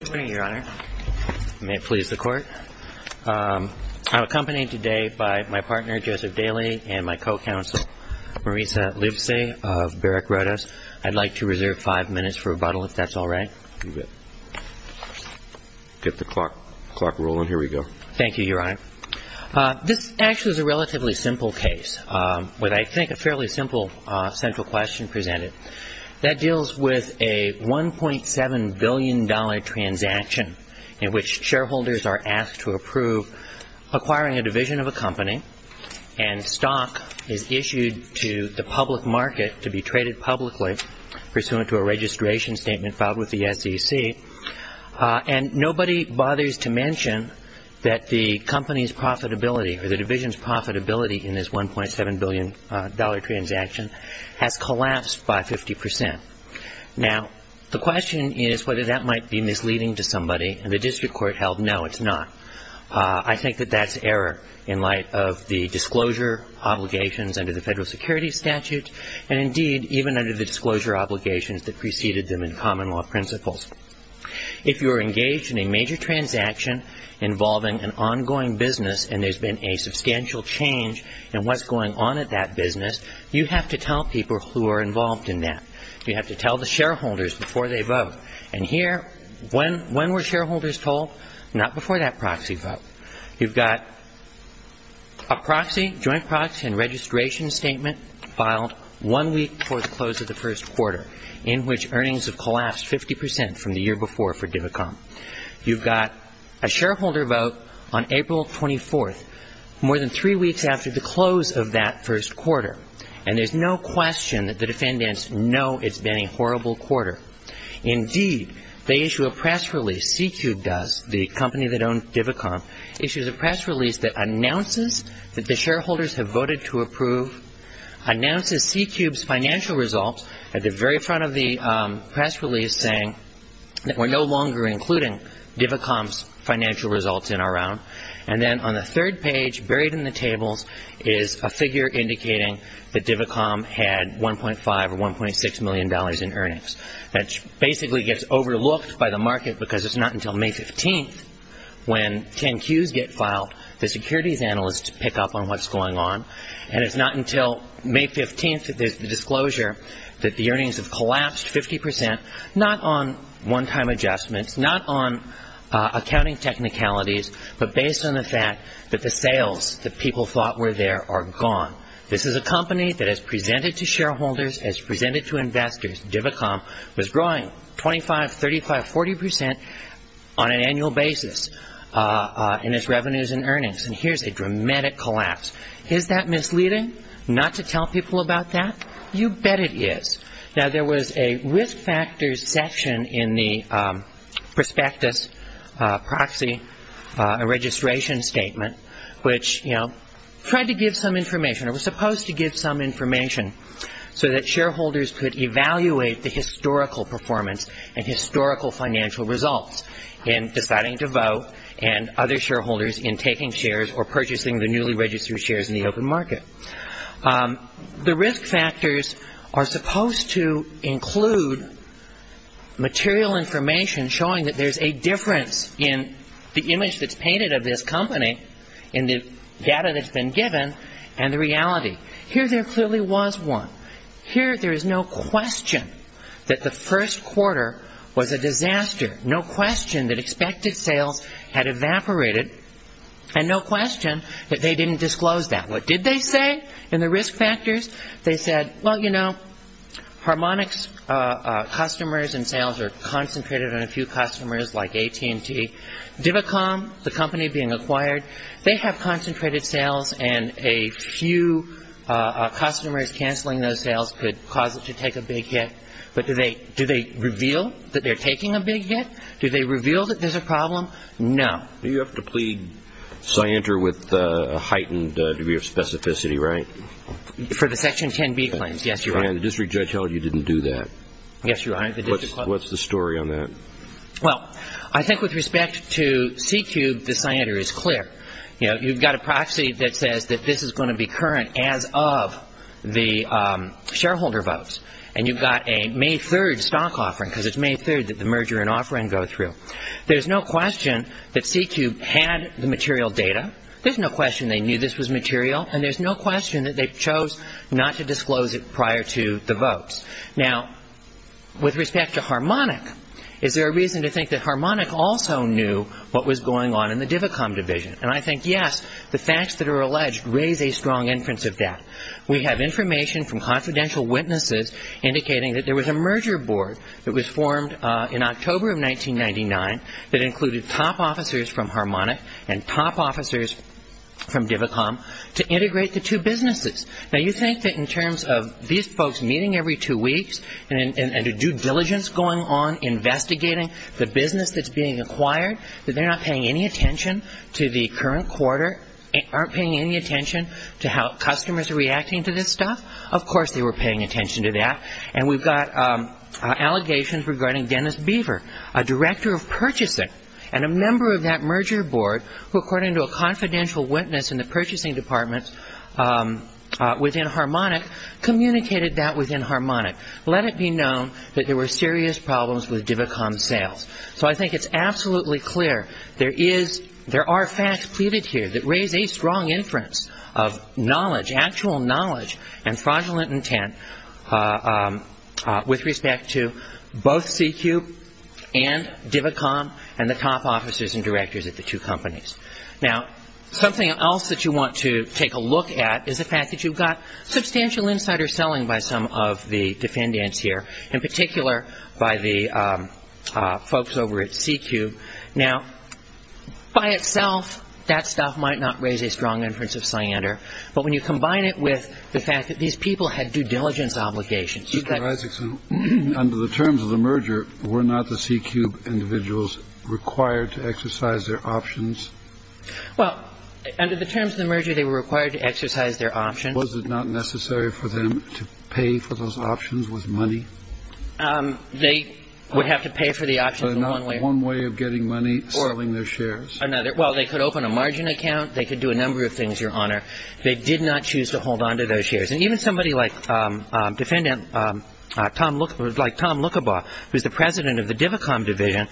Good morning, Your Honor. May it please the Court. I'm accompanied today by my partner, Joseph Daley, and my co-counsel, Marisa Livesey of Barak Rodos. I'd like to reserve five minutes for rebuttal, if that's all right. You bet. Get the clock rolling. Here we go. Thank you, Your Honor. This actually is a relatively simple case with, I think, a fairly simple central question presented. That deals with a $1.7 billion transaction in which shareholders are asked to approve acquiring a division of a company, and stock is issued to the public market to be traded publicly pursuant to a registration statement filed with the SEC. And nobody bothers to mention that the company's profitability or the division's profitability in this $1.7 billion transaction has collapsed by 50%. Now, the question is whether that might be misleading to somebody, and the district court held no, it's not. I think that that's error in light of the disclosure obligations under the Federal Security Statute, and indeed, even under the disclosure obligations that preceded them in common law principles. If you're engaged in a major transaction involving an ongoing business and there's been a substantial change in what's going on at that business, you have to tell people who are involved in that. You have to tell the shareholders before they vote. And here, when were shareholders told? Not before that proxy vote. You've got a proxy, joint proxy and registration statement filed one week before the close of the first quarter, in which earnings have collapsed 50% from the year before for Divicom. You've got a shareholder vote on April 24th, more than three weeks after the close of that first quarter, and there's no question that the defendants know it's been a horrible quarter. Indeed, they issue a press release, C-Cube does, the company that owns Divicom, issues a press release that announces that the shareholders have voted to approve, announces C-Cube's financial results at the very front of the press release, saying that we're no longer including Divicom's financial results in our round, and then on the third page, buried in the tables, is a figure indicating that Divicom had $1.5 or $1.6 million in earnings. That basically gets overlooked by the market because it's not until May 15th, when 10-Qs get filed, the securities analysts pick up on what's going on, and it's not until May 15th that there's the disclosure that the earnings have collapsed 50%, not on one-time adjustments, not on accounting technicalities, but based on the fact that the sales that people thought were there are gone. This is a company that has presented to shareholders, has presented to investors, Divicom was growing 25%, 35%, 40% on an annual basis in its revenues and earnings, and here's a dramatic collapse. Is that misleading, not to tell people about that? You bet it is. Now, there was a risk factors section in the prospectus proxy registration statement, which tried to give some information, or was supposed to give some information, so that shareholders could evaluate the historical performance and historical financial results in deciding to vote and other shareholders in taking shares or purchasing the newly registered shares in the open market. The risk factors are supposed to include material information showing that there's a difference in the image that's painted of this company, in the data that's been given, and the reality. Here there clearly was one. Here there is no question that the first quarter was a disaster, no question that expected sales had evaporated, and no question that they didn't disclose that. What did they say in the risk factors? They said, well, you know, Harmonix customers and sales are concentrated on a few customers like AT&T. Divacom, the company being acquired, they have concentrated sales and a few customers canceling those sales could cause it to take a big hit. But do they reveal that they're taking a big hit? Do they reveal that there's a problem? No. You have to plead scienter with a heightened degree of specificity, right? For the Section 10b claims, yes, Your Honor. And the district judge held you didn't do that. Yes, Your Honor. What's the story on that? Well, I think with respect to CQ, the scienter is clear. You've got a proxy that says that this is going to be current as of the shareholder votes, and you've got a May 3rd stock offering because it's May 3rd that the merger and offering go through. There's no question that CQ had the material data. There's no question they knew this was material, and there's no question that they chose not to disclose it prior to the votes. Now, with respect to Harmonic, is there a reason to think that Harmonic also knew what was going on in the Divacom division? And I think, yes, the facts that are alleged raise a strong inference of that. We have information from confidential witnesses indicating that there was a merger board that was formed in October of 1999 that included top officers from Harmonic and top officers from Divacom to integrate the two businesses. Now, you think that in terms of these folks meeting every two weeks and a due diligence going on investigating the business that's being acquired, that they're not paying any attention to the current quarter, aren't paying any attention to how customers are reacting to this stuff? Of course they were paying attention to that. And we've got allegations regarding Dennis Beaver, a director of purchasing, and a member of that merger board, who according to a confidential witness in the purchasing department within Harmonic, communicated that within Harmonic. Let it be known that there were serious problems with Divacom sales. So I think it's absolutely clear there are facts pleaded here that raise a strong inference of knowledge, and fraudulent intent with respect to both CQ and Divacom and the top officers and directors at the two companies. Now, something else that you want to take a look at is the fact that you've got substantial insider selling by some of the defendants here, in particular by the folks over at CQ. Now, by itself, that stuff might not raise a strong inference of cyander, but when you combine it with the fact that these people had due diligence obligations. Mr. Isaacson, under the terms of the merger, were not the CQ individuals required to exercise their options? Well, under the terms of the merger, they were required to exercise their options. Was it not necessary for them to pay for those options with money? They would have to pay for the options in one way. So not one way of getting money, selling their shares. Well, they could open a margin account. They could do a number of things, Your Honor. They did not choose to hold on to those shares. And even somebody like Tom Lukabaugh, who's the president of the Divacom division,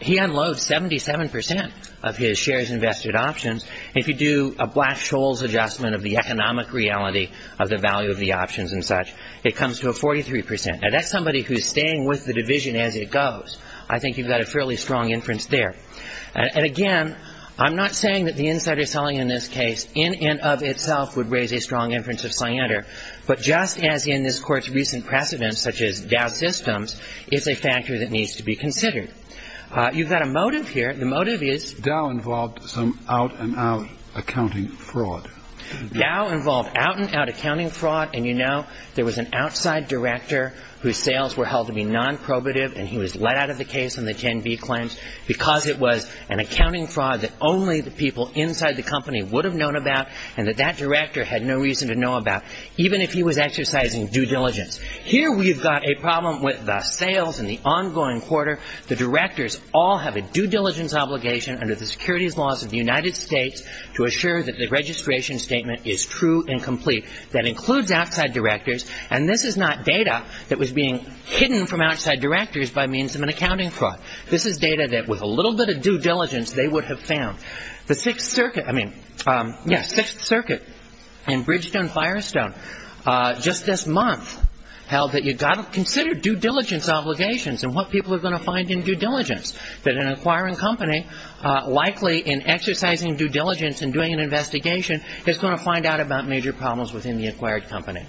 he unloads 77% of his shares invested options. If you do a Black-Scholes adjustment of the economic reality of the value of the options and such, it comes to a 43%. Now, that's somebody who's staying with the division as it goes. I think you've got a fairly strong inference there. And, again, I'm not saying that the insider selling in this case in and of itself would raise a strong inference of Slander. But just as in this Court's recent precedents, such as Dow Systems, it's a factor that needs to be considered. You've got a motive here. The motive is Dow involved some out-and-out accounting fraud. Dow involved out-and-out accounting fraud. And you know there was an outside director whose sales were held to be nonprobative, and he was let out of the case on the 10B claims because it was an accounting fraud that only the people inside the company would have known about and that that director had no reason to know about, even if he was exercising due diligence. Here we've got a problem with the sales and the ongoing quarter. The directors all have a due diligence obligation under the securities laws of the United States to assure that the registration statement is true and complete. That includes outside directors. And this is not data that was being hidden from outside directors by means of an accounting fraud. This is data that with a little bit of due diligence they would have found. The Sixth Circuit in Bridgestone-Firestone just this month held that you've got to consider due diligence obligations and what people are going to find in due diligence, that an acquiring company likely in exercising due diligence and doing an investigation is going to find out about major problems within the acquired company.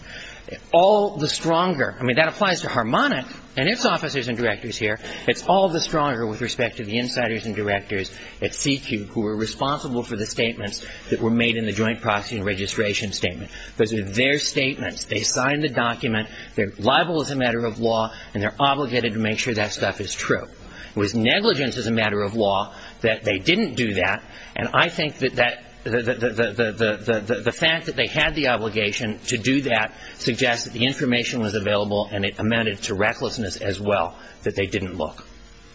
All the stronger. I mean, that applies to Harmonic and its officers and directors here. It's all the stronger with respect to the insiders and directors at CQ who were responsible for the statements that were made in the joint proxy and registration statement. Those were their statements. They signed the document. They're liable as a matter of law, and they're obligated to make sure that stuff is true. It was negligence as a matter of law that they didn't do that, and I think that the fact that they had the obligation to do that suggests that the information was available and it amended to recklessness as well, that they didn't look,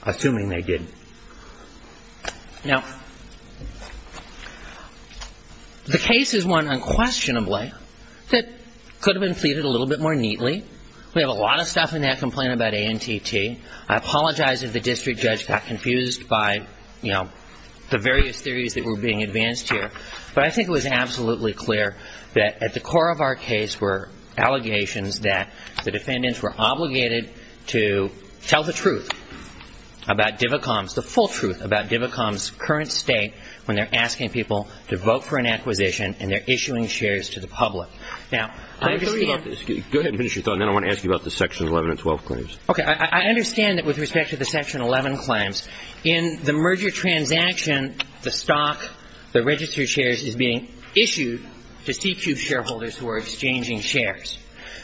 assuming they didn't. Now, the case is one unquestionably that could have been treated a little bit more neatly. We have a lot of stuff in that complaint about ANTT. I apologize if the district judge got confused by the various theories that were being advanced here, but I think it was absolutely clear that at the core of our case were allegations that the defendants were obligated to tell the truth about DIVACOMS, the full truth about DIVACOMS' current state when they're asking people to vote for an acquisition and they're issuing shares to the public. Now, I understand. Go ahead and finish your thought, and then I want to ask you about the Section 11 and 12 claims. Okay. I understand that with respect to the Section 11 claims, in the merger transaction, the stock, the registered shares, is being issued to CQ shareholders who are exchanging shares.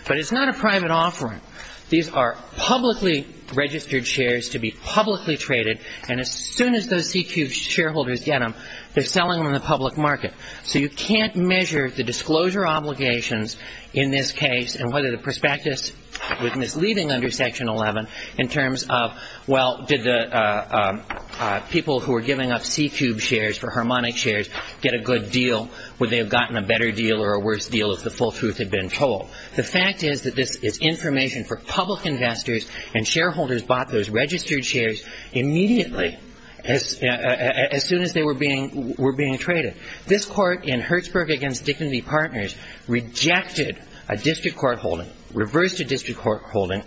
But it's not a private offering. These are publicly registered shares to be publicly traded, and as soon as those CQ shareholders get them, they're selling them in the public market. So you can't measure the disclosure obligations in this case and whether the prospectus was misleading under Section 11 in terms of, well, did the people who were giving up CQ shares for Harmonic shares get a good deal? Would they have gotten a better deal or a worse deal if the full truth had been told? The fact is that this is information for public investors, and shareholders bought those registered shares immediately as soon as they were being traded. This Court in Hertzberg v. Dignity Partners rejected a district court holding, reversed a district court holding,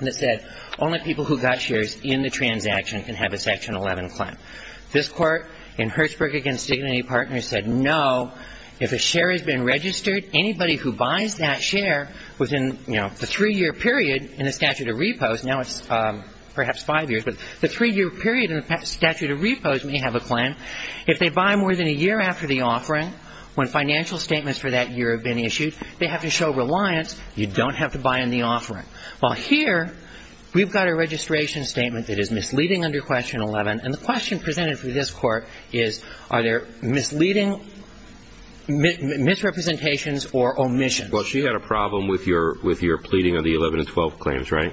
that said only people who got shares in the transaction can have a Section 11 claim. This Court in Hertzberg v. Dignity Partners said no. If a share has been registered, anybody who buys that share within, you know, the three-year period in the statute of repos, now it's perhaps five years, but the three-year period in the statute of repos may have a claim. If they buy more than a year after the offering, when financial statements for that year have been issued, they have to show reliance. You don't have to buy in the offering. Well, here we've got a registration statement that is misleading under Question 11, and the question presented for this Court is are there misleading misrepresentations or omissions? Well, she had a problem with your pleading of the 11 and 12 claims, right?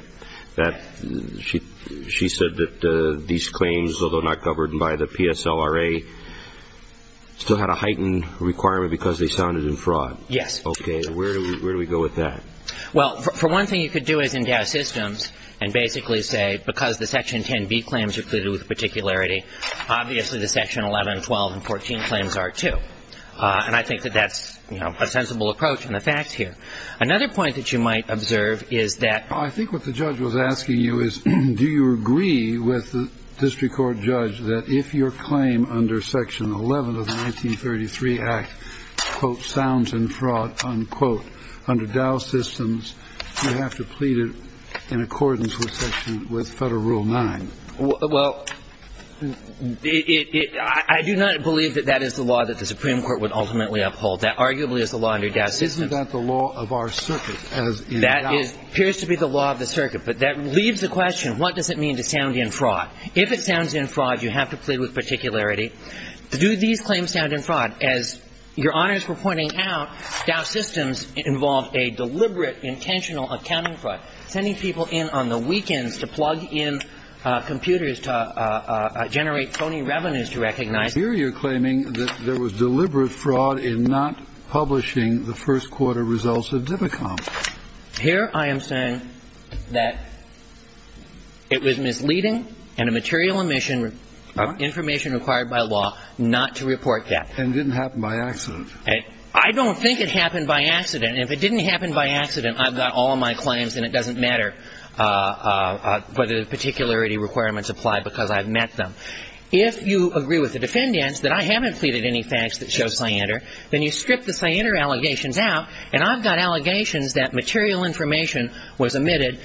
She said that these claims, although not governed by the PSLRA, still had a heightened requirement because they sounded in fraud. Yes. Okay. Where do we go with that? Well, for one thing you could do is endow systems and basically say because the Section 10b claims are pleaded with particularity, obviously the Section 11, 12, and 14 claims are, too. And I think that that's, you know, a sensible approach in the facts here. Another point that you might observe is that ---- I think what the judge was asking you is do you agree with the district court judge that if your claim under Section 11 of the 1933 Act, quote, sounds in fraud, unquote, under Dow Systems, you have to plead it in accordance with Federal Rule 9? Well, I do not believe that that is the law that the Supreme Court would ultimately uphold. That arguably is the law under Dow Systems. Isn't that the law of our circuit? That appears to be the law of the circuit. But that leaves the question, what does it mean to sound in fraud? If it sounds in fraud, you have to plead with particularity. Do these claims sound in fraud? As Your Honors were pointing out, Dow Systems involved a deliberate intentional accounting fraud, sending people in on the weekends to plug in computers to generate phony revenues to recognize ---- And here you're claiming that there was deliberate fraud in not publishing the first quarter results of DIPICOM. Here I am saying that it was misleading and a material omission of information required by law not to report that. And it didn't happen by accident. I don't think it happened by accident. If it didn't happen by accident, I've got all of my claims, and it doesn't matter whether the particularity requirements apply because I've met them. If you agree with the defendants that I haven't pleaded any facts that show cyander, then you strip the cyander allegations out, and I've got allegations that material information was omitted,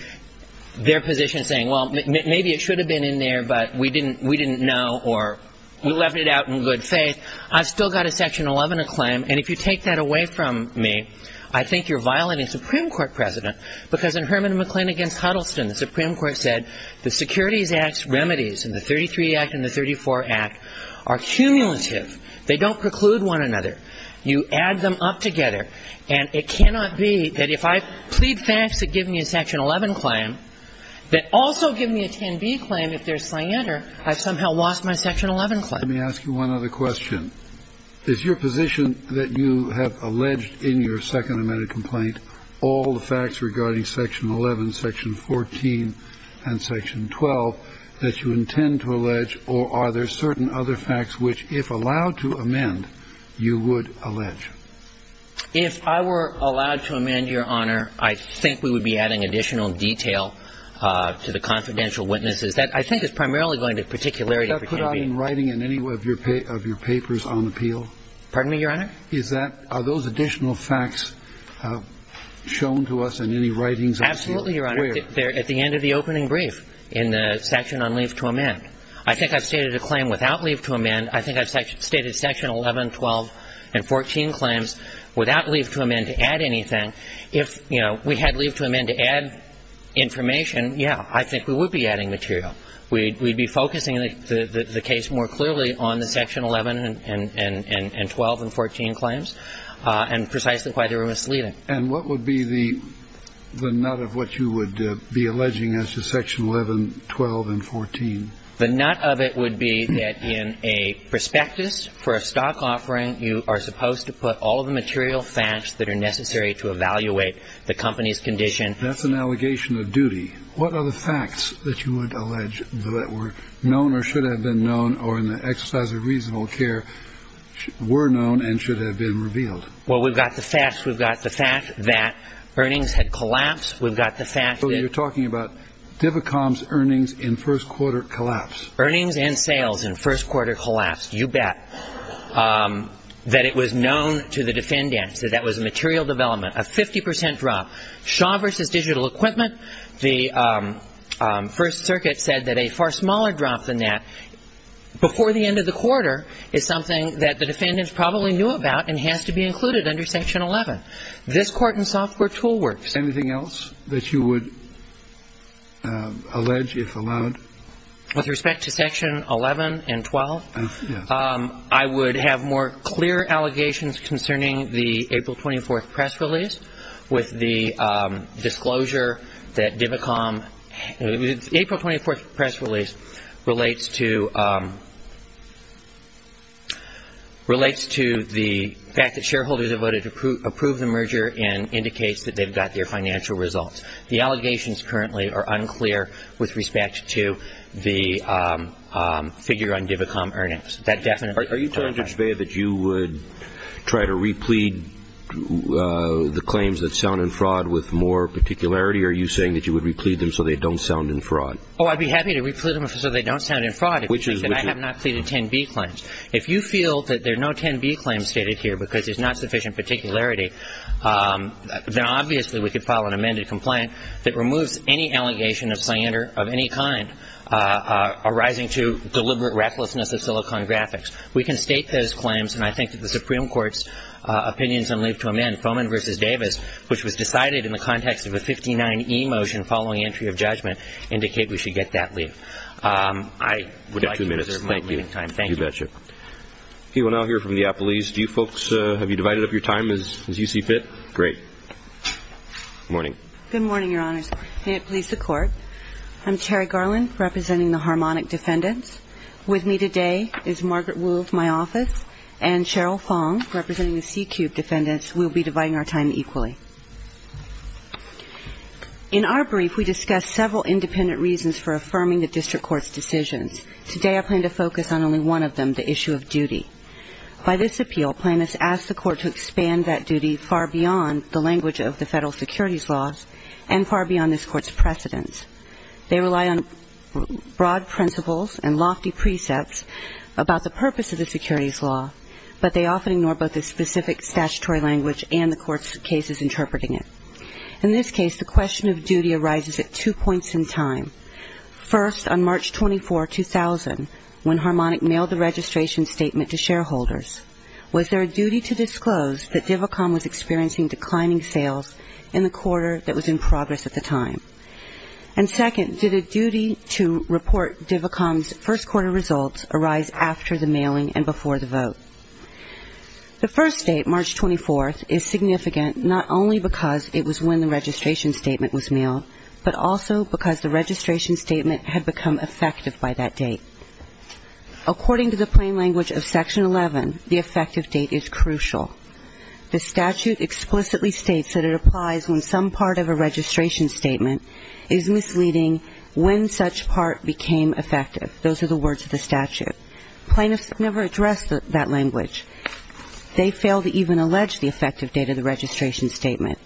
their position saying, well, maybe it should have been in there, but we didn't know or we left it out in good faith. I've still got a Section 11 claim, and if you take that away from me, I think you're violating Supreme Court precedent. Because in Herman and McClain v. Huddleston, the Supreme Court said the Securities Act's remedies in the 33 Act and the 34 Act are cumulative. They don't preclude one another. You add them up together. And it cannot be that if I plead facts that give me a Section 11 claim, that also give me a 10b claim if there's cyander, I've somehow lost my Section 11 claim. Let me ask you one other question. Is your position that you have alleged in your Second Amendment complaint all the facts regarding Section 11, Section 14 and Section 12 that you intend to allege, or are there certain other facts which, if allowed to amend, you would allege? If I were allowed to amend, Your Honor, I think we would be adding additional detail to the confidential witnesses. That, I think, is primarily going to particularity for 10b. Is that put out in writing in any of your papers on appeal? Pardon me, Your Honor? The fact is that are those additional facts shown to us in any writings on appeal? Absolutely, Your Honor. Where? At the end of the opening brief in the section on leave to amend. I think I've stated a claim without leave to amend. I think I've stated Section 11, 12 and 14 claims without leave to amend to add anything. If, you know, we had leave to amend to add information, yeah, I think we would be adding material. We'd be focusing the case more clearly on the Section 11 and 12 and 14 claims and precisely why they were misleading. And what would be the nut of what you would be alleging as to Section 11, 12 and 14? The nut of it would be that in a prospectus for a stock offering, you are supposed to put all of the material facts that are necessary to evaluate the company's condition. That's an allegation of duty. What are the facts that you would allege that were known or should have been known or in the exercise of reasonable care were known and should have been revealed? Well, we've got the facts. We've got the fact that earnings had collapsed. We've got the fact that- So you're talking about Divicom's earnings in first quarter collapse. Earnings and sales in first quarter collapse, you bet, that it was known to the defendants, that that was a material development, a 50 percent drop. Shaw v. Digital Equipment, the First Circuit said that a far smaller drop than that before the end of the quarter is something that the defendants probably knew about and has to be included under Section 11. This court and software tool works. Anything else that you would allege, if allowed? With respect to Section 11 and 12, I would have more clear allegations concerning the April 24th press release with the disclosure that Divicom- April 24th press release relates to the fact that shareholders have voted to approve the merger and indicates that they've got their financial results. The allegations currently are unclear with respect to the figure on Divicom earnings. Are you telling Judge Bea that you would try to replete the claims that sound in fraud with more particularity, or are you saying that you would replete them so they don't sound in fraud? Oh, I'd be happy to replete them so they don't sound in fraud. Which is- And I have not pleaded 10B claims. If you feel that there are no 10B claims stated here because there's not sufficient particularity, then obviously we could file an amended complaint that removes any allegation of slander of any kind arising to deliberate recklessness of Silicon Graphics. We can state those claims, and I think that the Supreme Court's opinions on leave to amend, Foman v. Davis, which was decided in the context of a 59E motion following entry of judgment, indicate we should get that leave. I would like to reserve my leaving time. You have two minutes. Thank you. You betcha. We will now hear from the appellees. Do you folks have you divided up your time as you see fit? Great. Good morning. Good morning, Your Honors. May it please the Court. I'm Terry Garland, representing the Harmonic Defendants. With me today is Margaret Wolfe, my office, and Cheryl Fong, representing the C-Cube Defendants. We will be dividing our time equally. In our brief, we discussed several independent reasons for affirming the district court's decisions. Today I plan to focus on only one of them, the issue of duty. By this appeal, plaintiffs ask the court to expand that duty far beyond the language of the federal securities laws and far beyond this court's precedents. They rely on broad principles and lofty precepts about the purpose of the securities law, but they often ignore both the specific statutory language and the court's cases interpreting it. In this case, the question of duty arises at two points in time. First, on March 24, 2000, when Harmonic mailed the registration statement to shareholders, was there a duty to disclose that Divicom was experiencing declining sales in the quarter that was in progress at the time? And second, did a duty to report Divicom's first quarter results arise after the mailing and before the vote? The first date, March 24, is significant not only because it was when the registration statement was mailed, but also because the registration statement had become effective by that date. According to the plain language of Section 11, the effective date is crucial. The statute explicitly states that it applies when some part of a registration statement is misleading when such part became effective. Those are the words of the statute. Plaintiffs never address that language. They fail to even allege the effective date of the registration statement.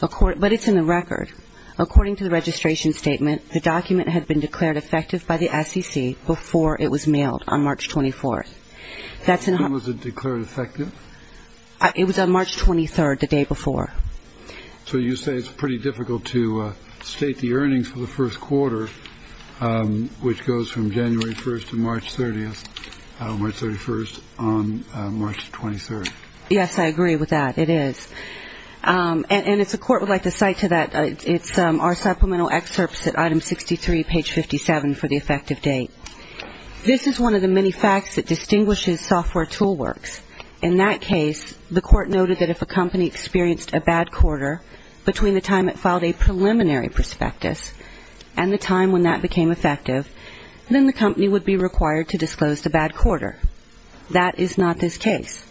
But it's in the record. According to the registration statement, the document had been declared effective by the SEC before it was mailed on March 24. When was it declared effective? It was on March 23, the day before. So you say it's pretty difficult to state the earnings for the first quarter, which goes from January 1 to March 31 on March 23. Yes, I agree with that. It is. And it's a court would like to cite to that. It's our supplemental excerpts at item 63, page 57 for the effective date. This is one of the many facts that distinguishes software tool works. In that case, the court noted that if a company experienced a bad quarter between the time it filed a preliminary prospectus and the time when that became effective, then the company would be required to disclose the bad quarter. That is not this case.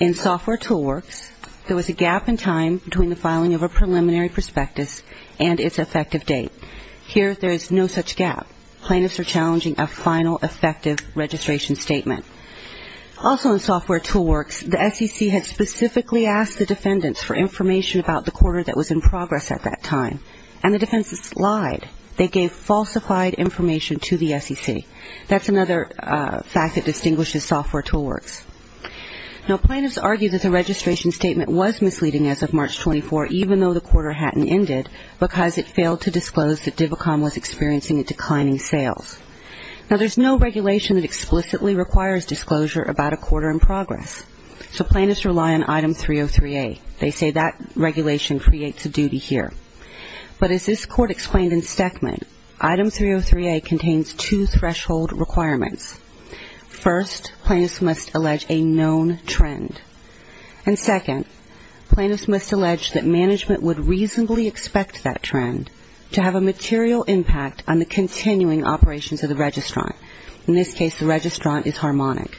In software tool works, there was a gap in time between the filing of a preliminary prospectus and its effective date. Here, there is no such gap. Plaintiffs are challenging a final effective registration statement. Also in software tool works, the SEC had specifically asked the defendants for information about the quarter that was in progress at that time. And the defendants lied. They gave falsified information to the SEC. That's another fact that distinguishes software tool works. Now, plaintiffs argue that the registration statement was misleading as of March 24, even though the quarter hadn't ended because it failed to disclose that Divicom was experiencing a declining sales. Now, there's no regulation that explicitly requires disclosure about a quarter in progress. So plaintiffs rely on item 303A. They say that regulation creates a duty here. But as this court explained in Stekman, item 303A contains two threshold requirements. First, plaintiffs must allege a known trend. And second, plaintiffs must allege that management would reasonably expect that trend to have a material impact on the continuing operations of the registrant. In this case, the registrant is Harmonic.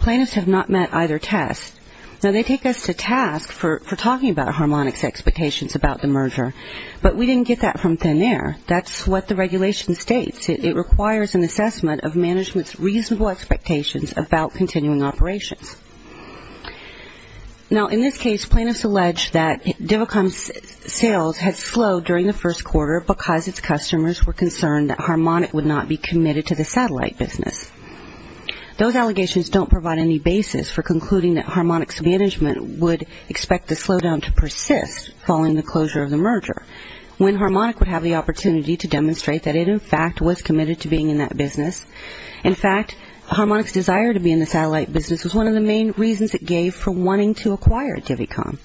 Plaintiffs have not met either test. Now, they take us to task for talking about Harmonic's expectations about the merger. But we didn't get that from thin air. That's what the regulation states. It requires an assessment of management's reasonable expectations about continuing operations. Now, in this case, plaintiffs allege that Divicom's sales had slowed during the first quarter because its customers were concerned that Harmonic would not be committed to the satellite business. Those allegations don't provide any basis for concluding that Harmonic's management would expect the slowdown to persist following the closure of the merger when Harmonic would have the opportunity to demonstrate that it, in fact, was committed to being in that business. In fact, Harmonic's desire to be in the satellite business was one of the main reasons it gave for wanting to acquire Divicom.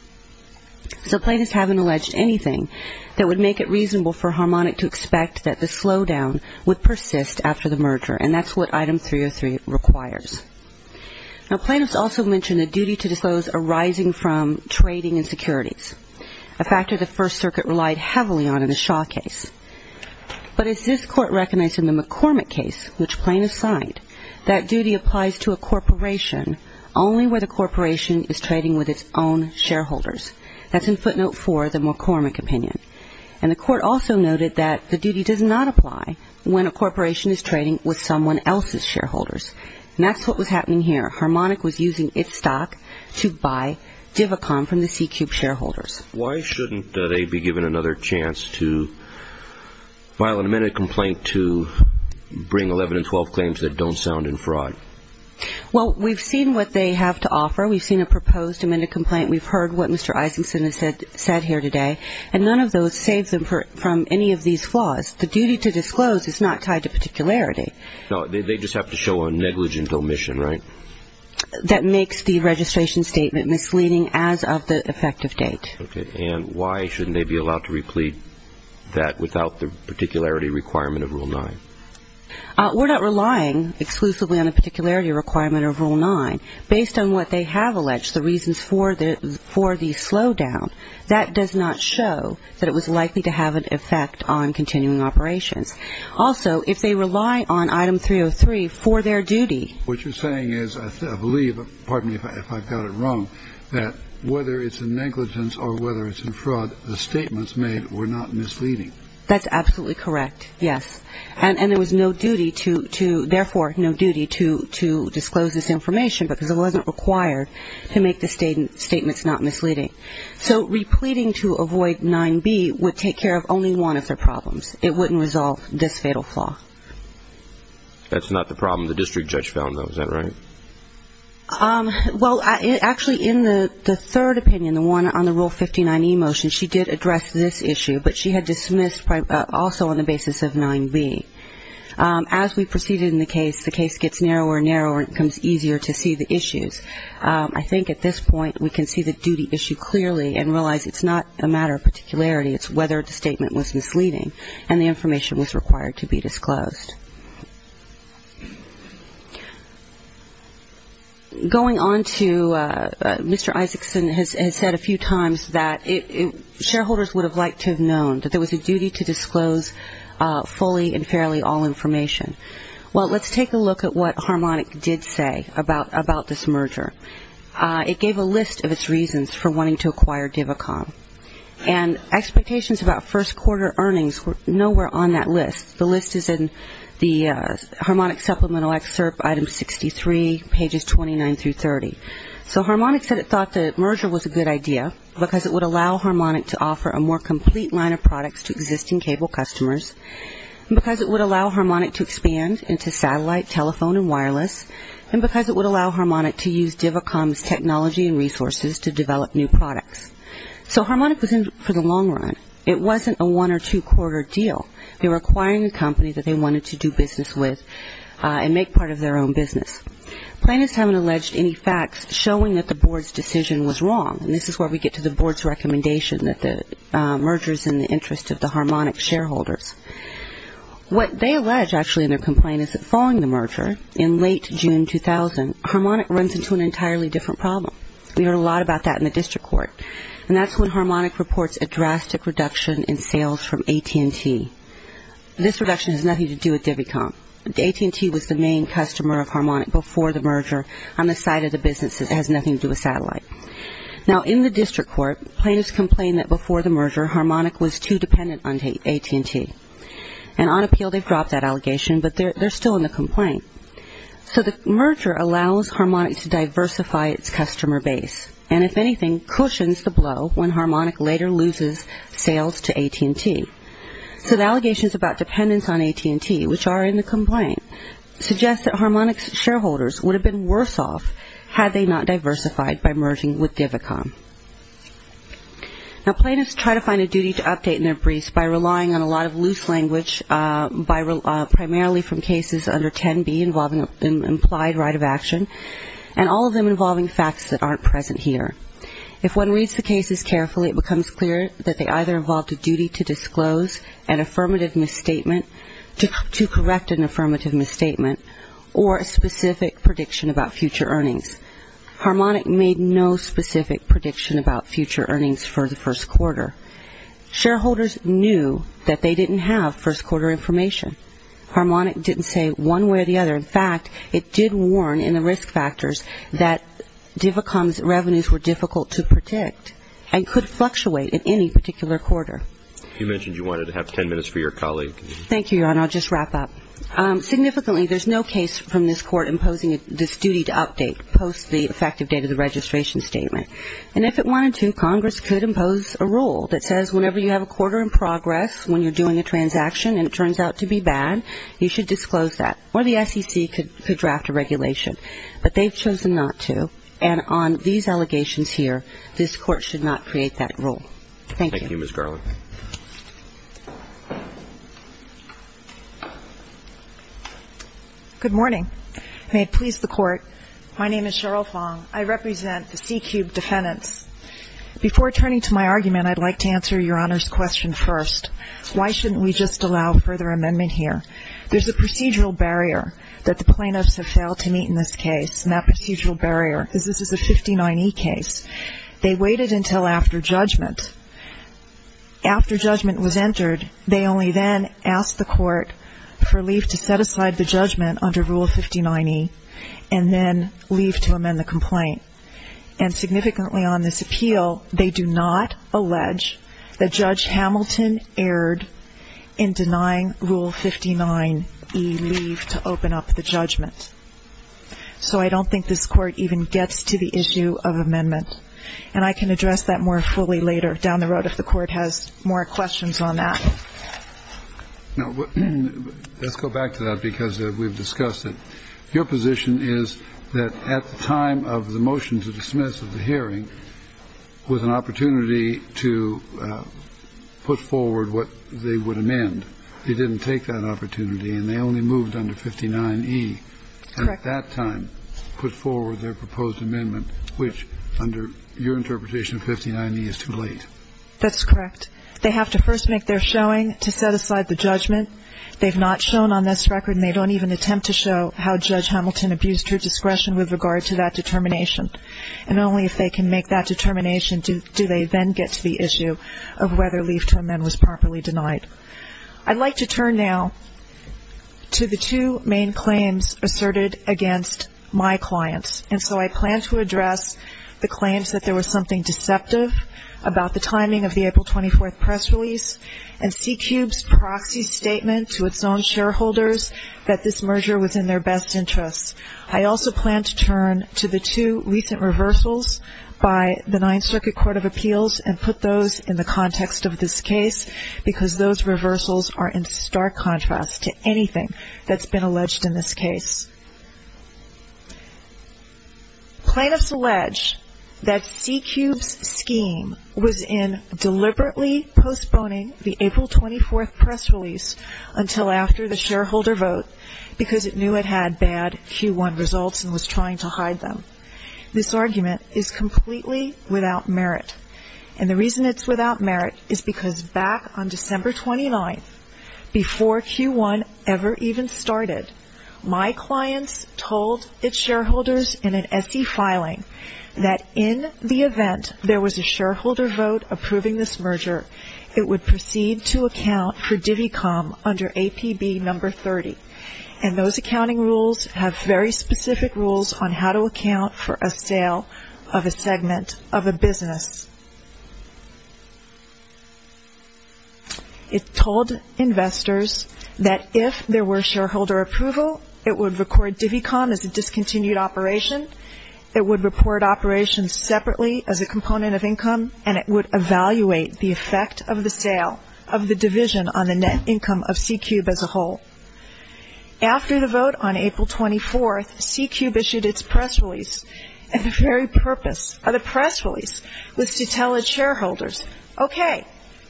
So plaintiffs haven't alleged anything that would make it reasonable for Harmonic to expect that the slowdown would persist after the merger. And that's what Item 303 requires. Now, plaintiffs also mention a duty to disclose arising from trading and securities, a factor the First Circuit relied heavily on in the Shaw case. But as this Court recognized in the McCormick case, which plaintiffs signed, that duty applies to a corporation only where the corporation is trading with its own shareholders. That's in footnote four of the McCormick opinion. And the Court also noted that the duty does not apply when a corporation is trading with someone else's shareholders. And that's what was happening here. Harmonic was using its stock to buy Divicom from the C-Cube shareholders. Why shouldn't they be given another chance to file an amended complaint to bring 11 and 12 claims that don't sound in fraud? Well, we've seen what they have to offer. We've seen a proposed amended complaint. We've heard what Mr. Isakson has said here today. And none of those save them from any of these flaws. The duty to disclose is not tied to particularity. No, they just have to show a negligent omission, right? That makes the registration statement misleading as of the effective date. Okay. And why shouldn't they be allowed to replete that without the particularity requirement of Rule 9? We're not relying exclusively on a particularity requirement of Rule 9. Based on what they have alleged, the reasons for the slowdown, that does not show that it was likely to have an effect on continuing operations. Also, if they rely on Item 303 for their duty. What you're saying is, I believe, pardon me if I've got it wrong, that whether it's in negligence or whether it's in fraud, the statements made were not misleading. That's absolutely correct, yes. And there was no duty to, therefore, no duty to disclose this information because it wasn't required to make the statements not misleading. So repleting to avoid 9b would take care of only one of their problems. It wouldn't resolve this fatal flaw. That's not the problem the district judge found, though, is that right? Well, actually, in the third opinion, the one on the Rule 59e motion, she did address this issue, but she had dismissed also on the basis of 9b. As we proceeded in the case, the case gets narrower and narrower and it becomes easier to see the issues. I think at this point we can see the duty issue clearly and realize it's not a matter of particularity, it's whether the statement was misleading and the information was required to be disclosed. Going on to Mr. Isaacson has said a few times that shareholders would have liked to have known that there was a duty to disclose fully and fairly all information. Well, let's take a look at what Harmonic did say about this merger. It gave a list of its reasons for wanting to acquire Divicon. And expectations about first quarter earnings were nowhere on that list. The list is in the Harmonic supplemental excerpt, item 63, pages 29 through 30. So Harmonic said it thought the merger was a good idea because it would allow Harmonic to offer a more complete line of products to existing cable customers, and because it would allow Harmonic to expand into satellite, telephone, and wireless, and because it would allow Harmonic to use Divicon's technology and resources to develop new products. So Harmonic was in for the long run. It wasn't a one or two quarter deal. They were acquiring a company that they wanted to do business with and make part of their own business. Plaintiffs haven't alleged any facts showing that the board's decision was wrong. And this is where we get to the board's recommendation that the merger is in the interest of the Harmonic shareholders. What they allege actually in their complaint is that following the merger in late June 2000, Harmonic runs into an entirely different problem. We heard a lot about that in the district court. And that's when Harmonic reports a drastic reduction in sales from AT&T. This reduction has nothing to do with Divicon. AT&T was the main customer of Harmonic before the merger on the side of the businesses. It has nothing to do with satellite. Now in the district court, plaintiffs complained that before the merger Harmonic was too dependent on AT&T. And on appeal they've dropped that allegation, but they're still in the complaint. So the merger allows Harmonic to diversify its customer base. And if anything, cushions the blow when Harmonic later loses sales to AT&T. So the allegations about dependence on AT&T, which are in the complaint, suggest that Harmonic's shareholders would have been worse off had they not diversified by merging with Divicon. Now plaintiffs try to find a duty to update in their briefs by relying on a lot of loose language, primarily from cases under 10B involving implied right of action, and all of them involving facts that aren't present here. If one reads the cases carefully, it becomes clear that they either involved a duty to disclose an affirmative misstatement, to correct an affirmative misstatement, or a specific prediction about future earnings. Harmonic made no specific prediction about future earnings for the first quarter. Shareholders knew that they didn't have first quarter information. Harmonic didn't say one way or the other. In fact, it did warn in the risk factors that Divicon's revenues were difficult to predict and could fluctuate at any particular quarter. You mentioned you wanted to have 10 minutes for your colleague. Thank you, Your Honor. I'll just wrap up. Significantly, there's no case from this Court imposing this duty to update post the effective date of the registration statement. And if it wanted to, Congress could impose a rule that says whenever you have a quarter in progress, when you're doing a transaction and it turns out to be bad, you should disclose that. Or the SEC could draft a regulation. But they've chosen not to. And on these allegations here, this Court should not create that rule. Thank you. Thank you, Ms. Garland. Good morning. May it please the Court, my name is Cheryl Fong. I represent the C-Cube defendants. Before turning to my argument, I'd like to answer Your Honor's question first. Why shouldn't we just allow further amendment here? There's a procedural barrier that the plaintiffs have failed to meet in this case. And that procedural barrier is this is a 59E case. They waited until after judgment. After judgment was entered, they only then asked the Court for leave to set aside the judgment under Rule 59E and then leave to amend the complaint. And significantly on this appeal, they do not allege that Judge Hamilton erred in denying Rule 59E leave to open up the judgment. So I don't think this Court even gets to the issue of amendment. And I can address that more fully later down the road if the Court has more questions on that. Now, let's go back to that because we've discussed it. Your position is that at the time of the motion to dismiss of the hearing was an opportunity to put forward what they would amend. They didn't take that opportunity, and they only moved under 59E. Correct. At that time, put forward their proposed amendment, which under your interpretation of 59E is too late. That's correct. They have to first make their showing to set aside the judgment. They've not shown on this record, and they don't even attempt to show how Judge Hamilton abused her discretion with regard to that determination. And only if they can make that determination do they then get to the issue of whether leave to amend was properly denied. I'd like to turn now to the two main claims asserted against my clients. And so I plan to address the claims that there was something deceptive about the timing of the April 24th press release and C-Cube's proxy statement to its own shareholders that this merger was in their best interest. I also plan to turn to the two recent reversals by the Ninth Circuit Court of Appeals and put those in the context of this case because those reversals are in stark contrast to anything that's been alleged in this case. Plaintiffs allege that C-Cube's scheme was in deliberately postponing the April 24th press release until after the shareholder vote because it knew it had bad Q1 results and was trying to hide them. This argument is completely without merit. And the reason it's without merit is because back on December 29th, before Q1 ever even started, my clients told its shareholders in an SE filing that in the event there was a shareholder vote approving this merger, it would proceed to account for Divicom under APB number 30. And those accounting rules have very specific rules on how to account for a sale of a segment of a business. It told investors that if there were shareholder approval, it would record Divicom as a discontinued operation, it would report operations separately as a component of income, and it would evaluate the effect of the sale of the division on the net income of C-Cube as a whole. After the vote on April 24th, C-Cube issued its press release. And the very purpose of the press release was to tell its shareholders, okay,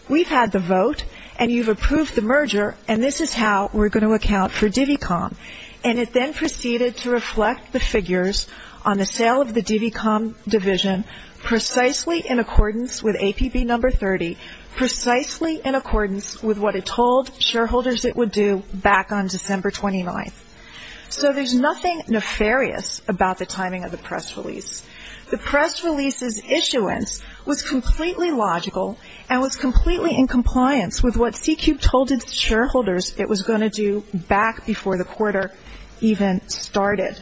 we've had the vote and you've approved the merger and this is how we're going to account for Divicom. And it then proceeded to reflect the figures on the sale of the Divicom division precisely in accordance with APB number 30, precisely in accordance with what it told shareholders it would do back on December 29th. So there's nothing nefarious about the timing of the press release. The press release's issuance was completely logical and was completely in compliance with what C-Cube told its shareholders it was going to do back before the quarter even started.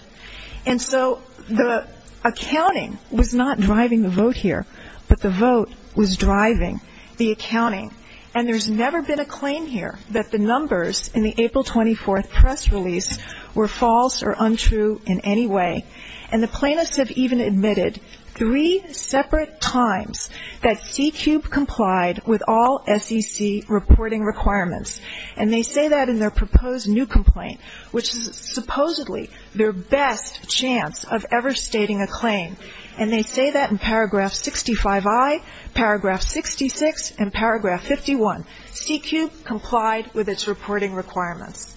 And so the accounting was not driving the vote here, but the vote was driving the accounting. And there's never been a claim here that the numbers in the April 24th press release were false or untrue in any way. And the plaintiffs have even admitted three separate times that C-Cube complied with all SEC reporting requirements. And they say that in their proposed new complaint, which is supposedly their best chance of ever stating a claim. And they say that in paragraph 65I, paragraph 66, and paragraph 51. C-Cube complied with its reporting requirements.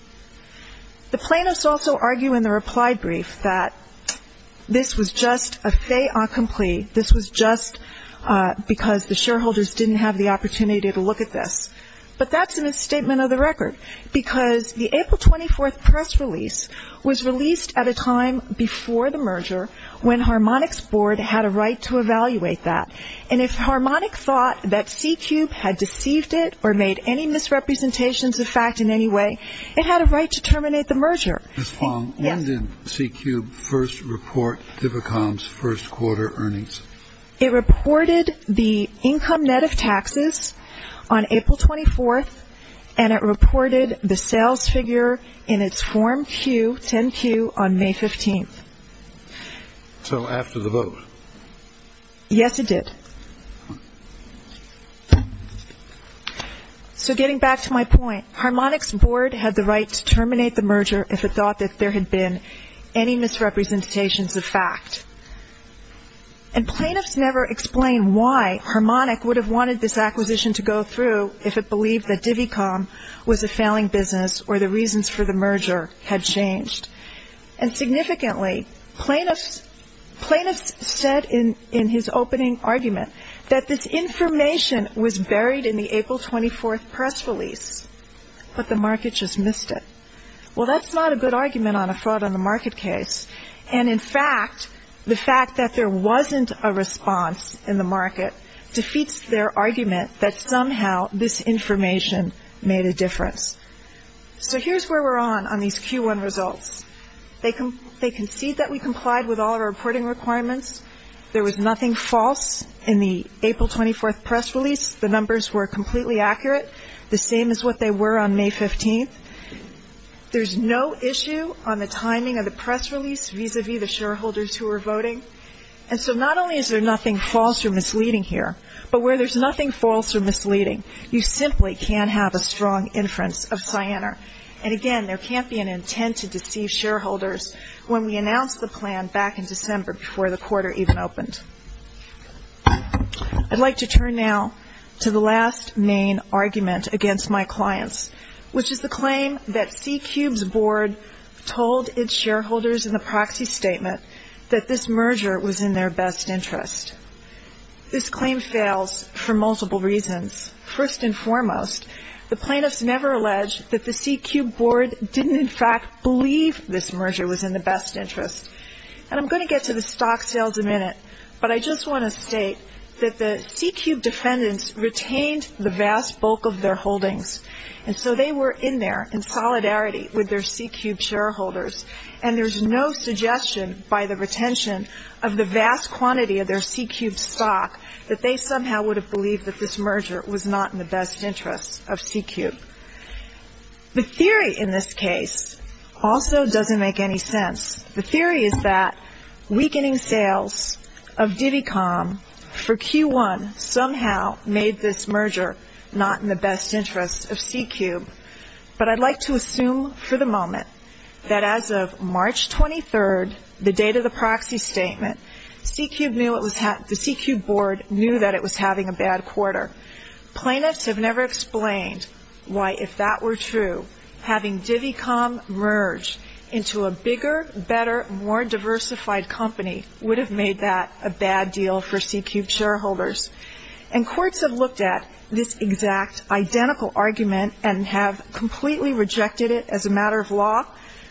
The plaintiffs also argue in the reply brief that this was just a fait accompli. This was just because the shareholders didn't have the opportunity to look at this. But that's a misstatement of the record because the April 24th press release was released at a time before the merger when Harmonic's board had a right to evaluate that. And if Harmonic thought that C-Cube had deceived it or made any misrepresentations of fact in any way, it had a right to terminate the merger. Ms. Fong, when did C-Cube first report DIVICOM's first quarter earnings? It reported the income net of taxes on April 24th. And it reported the sales figure in its form Q, 10Q, on May 15th. So after the vote. Yes, it did. So getting back to my point, Harmonic's board had the right to terminate the merger if it thought that there had been any misrepresentations of fact. And plaintiffs never explain why Harmonic would have wanted this acquisition to go through if it believed that DIVICOM was a failing business or the reasons for the merger had changed. And significantly, plaintiffs said in his opening argument that this information was buried in the April 24th press release, but the market just missed it. Well, that's not a good argument on a fraud on the market case. And in fact, the fact that there wasn't a response in the market defeats their argument that somehow this information made a difference. So here's where we're on on these Q1 results. They concede that we complied with all of our reporting requirements. There was nothing false in the April 24th press release. The numbers were completely accurate, the same as what they were on May 15th. There's no issue on the timing of the press release vis-à-vis the shareholders who are voting. And so not only is there nothing false or misleading here, but where there's nothing false or misleading, you simply can't have a strong inference of Cyanar. And again, there can't be an intent to deceive shareholders when we announced the plan back in December before the quarter even opened. I'd like to turn now to the last main argument against my clients, which is the claim that CQB's board told its shareholders in the proxy statement that this merger was in their best interest. This claim fails for multiple reasons. First and foremost, the plaintiffs never alleged that the CQB board didn't in fact believe this merger was in the best interest. And I'm going to get to the stock sales in a minute, but I just want to state that the CQB defendants retained the vast bulk of their holdings. And so they were in there in solidarity with their CQB shareholders, and there's no suggestion by the retention of the vast quantity of their CQB stock that they somehow would have believed that this merger was not in the best interest of CQB. The theory in this case also doesn't make any sense. The theory is that weakening sales of Divicom for Q1 somehow made this merger not in the best interest of CQB. But I'd like to assume for the moment that as of March 23rd, the date of the proxy statement, the CQB board knew that it was having a bad quarter. Plaintiffs have never explained why if that were true, having Divicom merge into a bigger, better, more diversified company would have made that a bad deal for CQB shareholders. And courts have looked at this exact identical argument and have completely rejected it as a matter of law.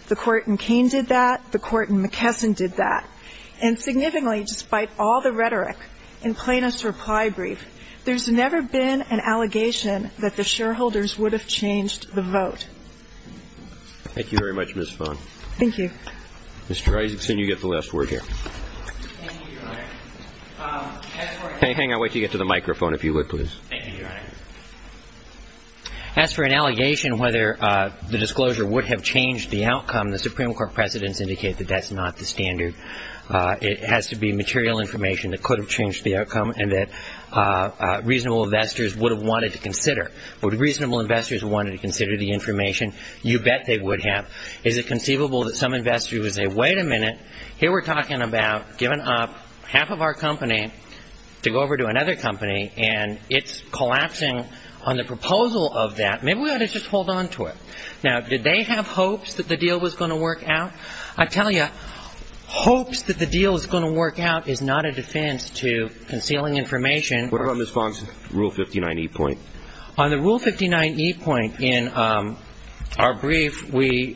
The court in Kane did that. The court in McKesson did that. And significantly, despite all the rhetoric in plaintiff's reply brief, there's never been an allegation that the shareholders would have changed the vote. Thank you very much, Ms. Phan. Thank you. Mr. Isaacson, you get the last word here. Thank you, Your Honor. As for an allegation whether the disclosure would have changed the outcome, the Supreme Court precedents indicate that that's not the standard. It has to be material information that could have changed the outcome and that reasonable investors would have wanted to consider. Would reasonable investors have wanted to consider the information? You bet they would have. Is it conceivable that some investor would say, wait a minute, here we're talking about giving up half of our company to go over to another company and it's collapsing on the proposal of that. Maybe we ought to just hold on to it. Now, did they have hopes that the deal was going to work out? I tell you, hopes that the deal is going to work out is not a defense to concealing information. What about Ms. Phan's Rule 59e point? On the Rule 59e point in our brief, we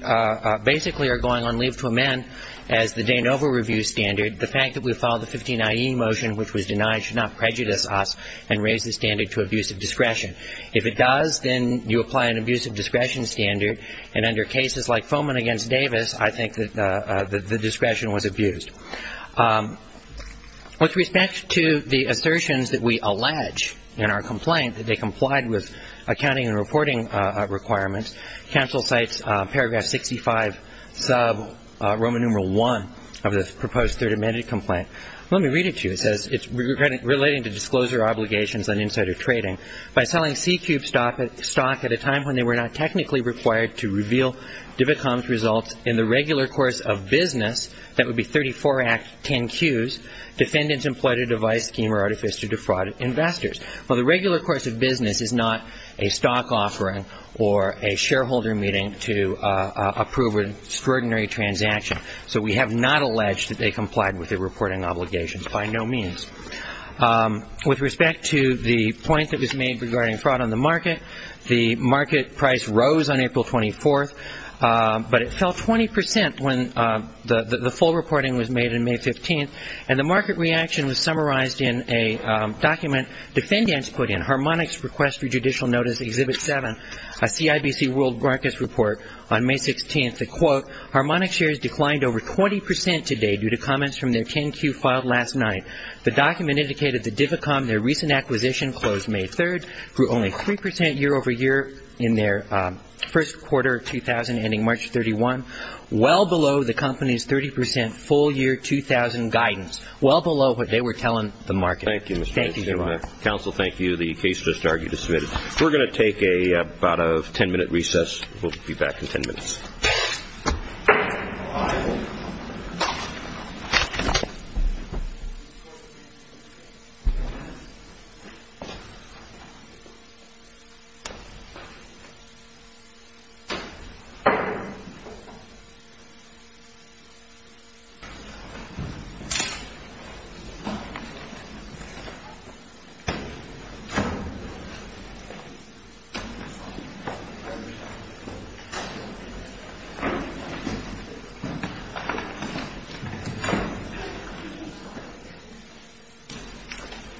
basically are going on leave to amend, as the Danova Review standard, the fact that we filed the 59e motion which was denied should not prejudice us and raise the standard to abusive discretion. If it does, then you apply an abusive discretion standard, and under cases like Foman v. Davis, I think that the discretion was abused. With respect to the assertions that we allege in our complaint that they complied with accounting and reporting requirements, counsel cites paragraph 65 sub Roman numeral I of the proposed Third Amendment complaint. Let me read it to you. It says it's relating to disclosure obligations on insider trading. By selling C-Cube stock at a time when they were not technically required to reveal Divicom's results in the regular course of business, that would be 34 Act 10Qs, defendants employed a device, scheme, or artifice to defraud investors. Well, the regular course of business is not a stock offering or a shareholder meeting to approve an extraordinary transaction, so we have not alleged that they complied with the reporting obligations by no means. With respect to the point that was made regarding fraud on the market, the market price rose on April 24th, but it fell 20% when the full reporting was made on May 15th, and the market reaction was summarized in a document defendants put in, Harmonics Request for Judicial Notice Exhibit 7, a CIBC World Markets Report, on May 16th. They quote, Harmonic shares declined over 20% today due to comments from their 10Q filed last night. The document indicated that Divicom, their recent acquisition closed May 3rd, grew only 3% year over year in their first quarter of 2000, ending March 31, well below the company's 30% full year 2000 guidance, well below what they were telling the market. Thank you, Mr. Vice Chairman. Thank you, Your Honor. Counsel, thank you. The case just argued is submitted. We're going to take about a 10-minute recess. We'll be back in 10 minutes. Thank you.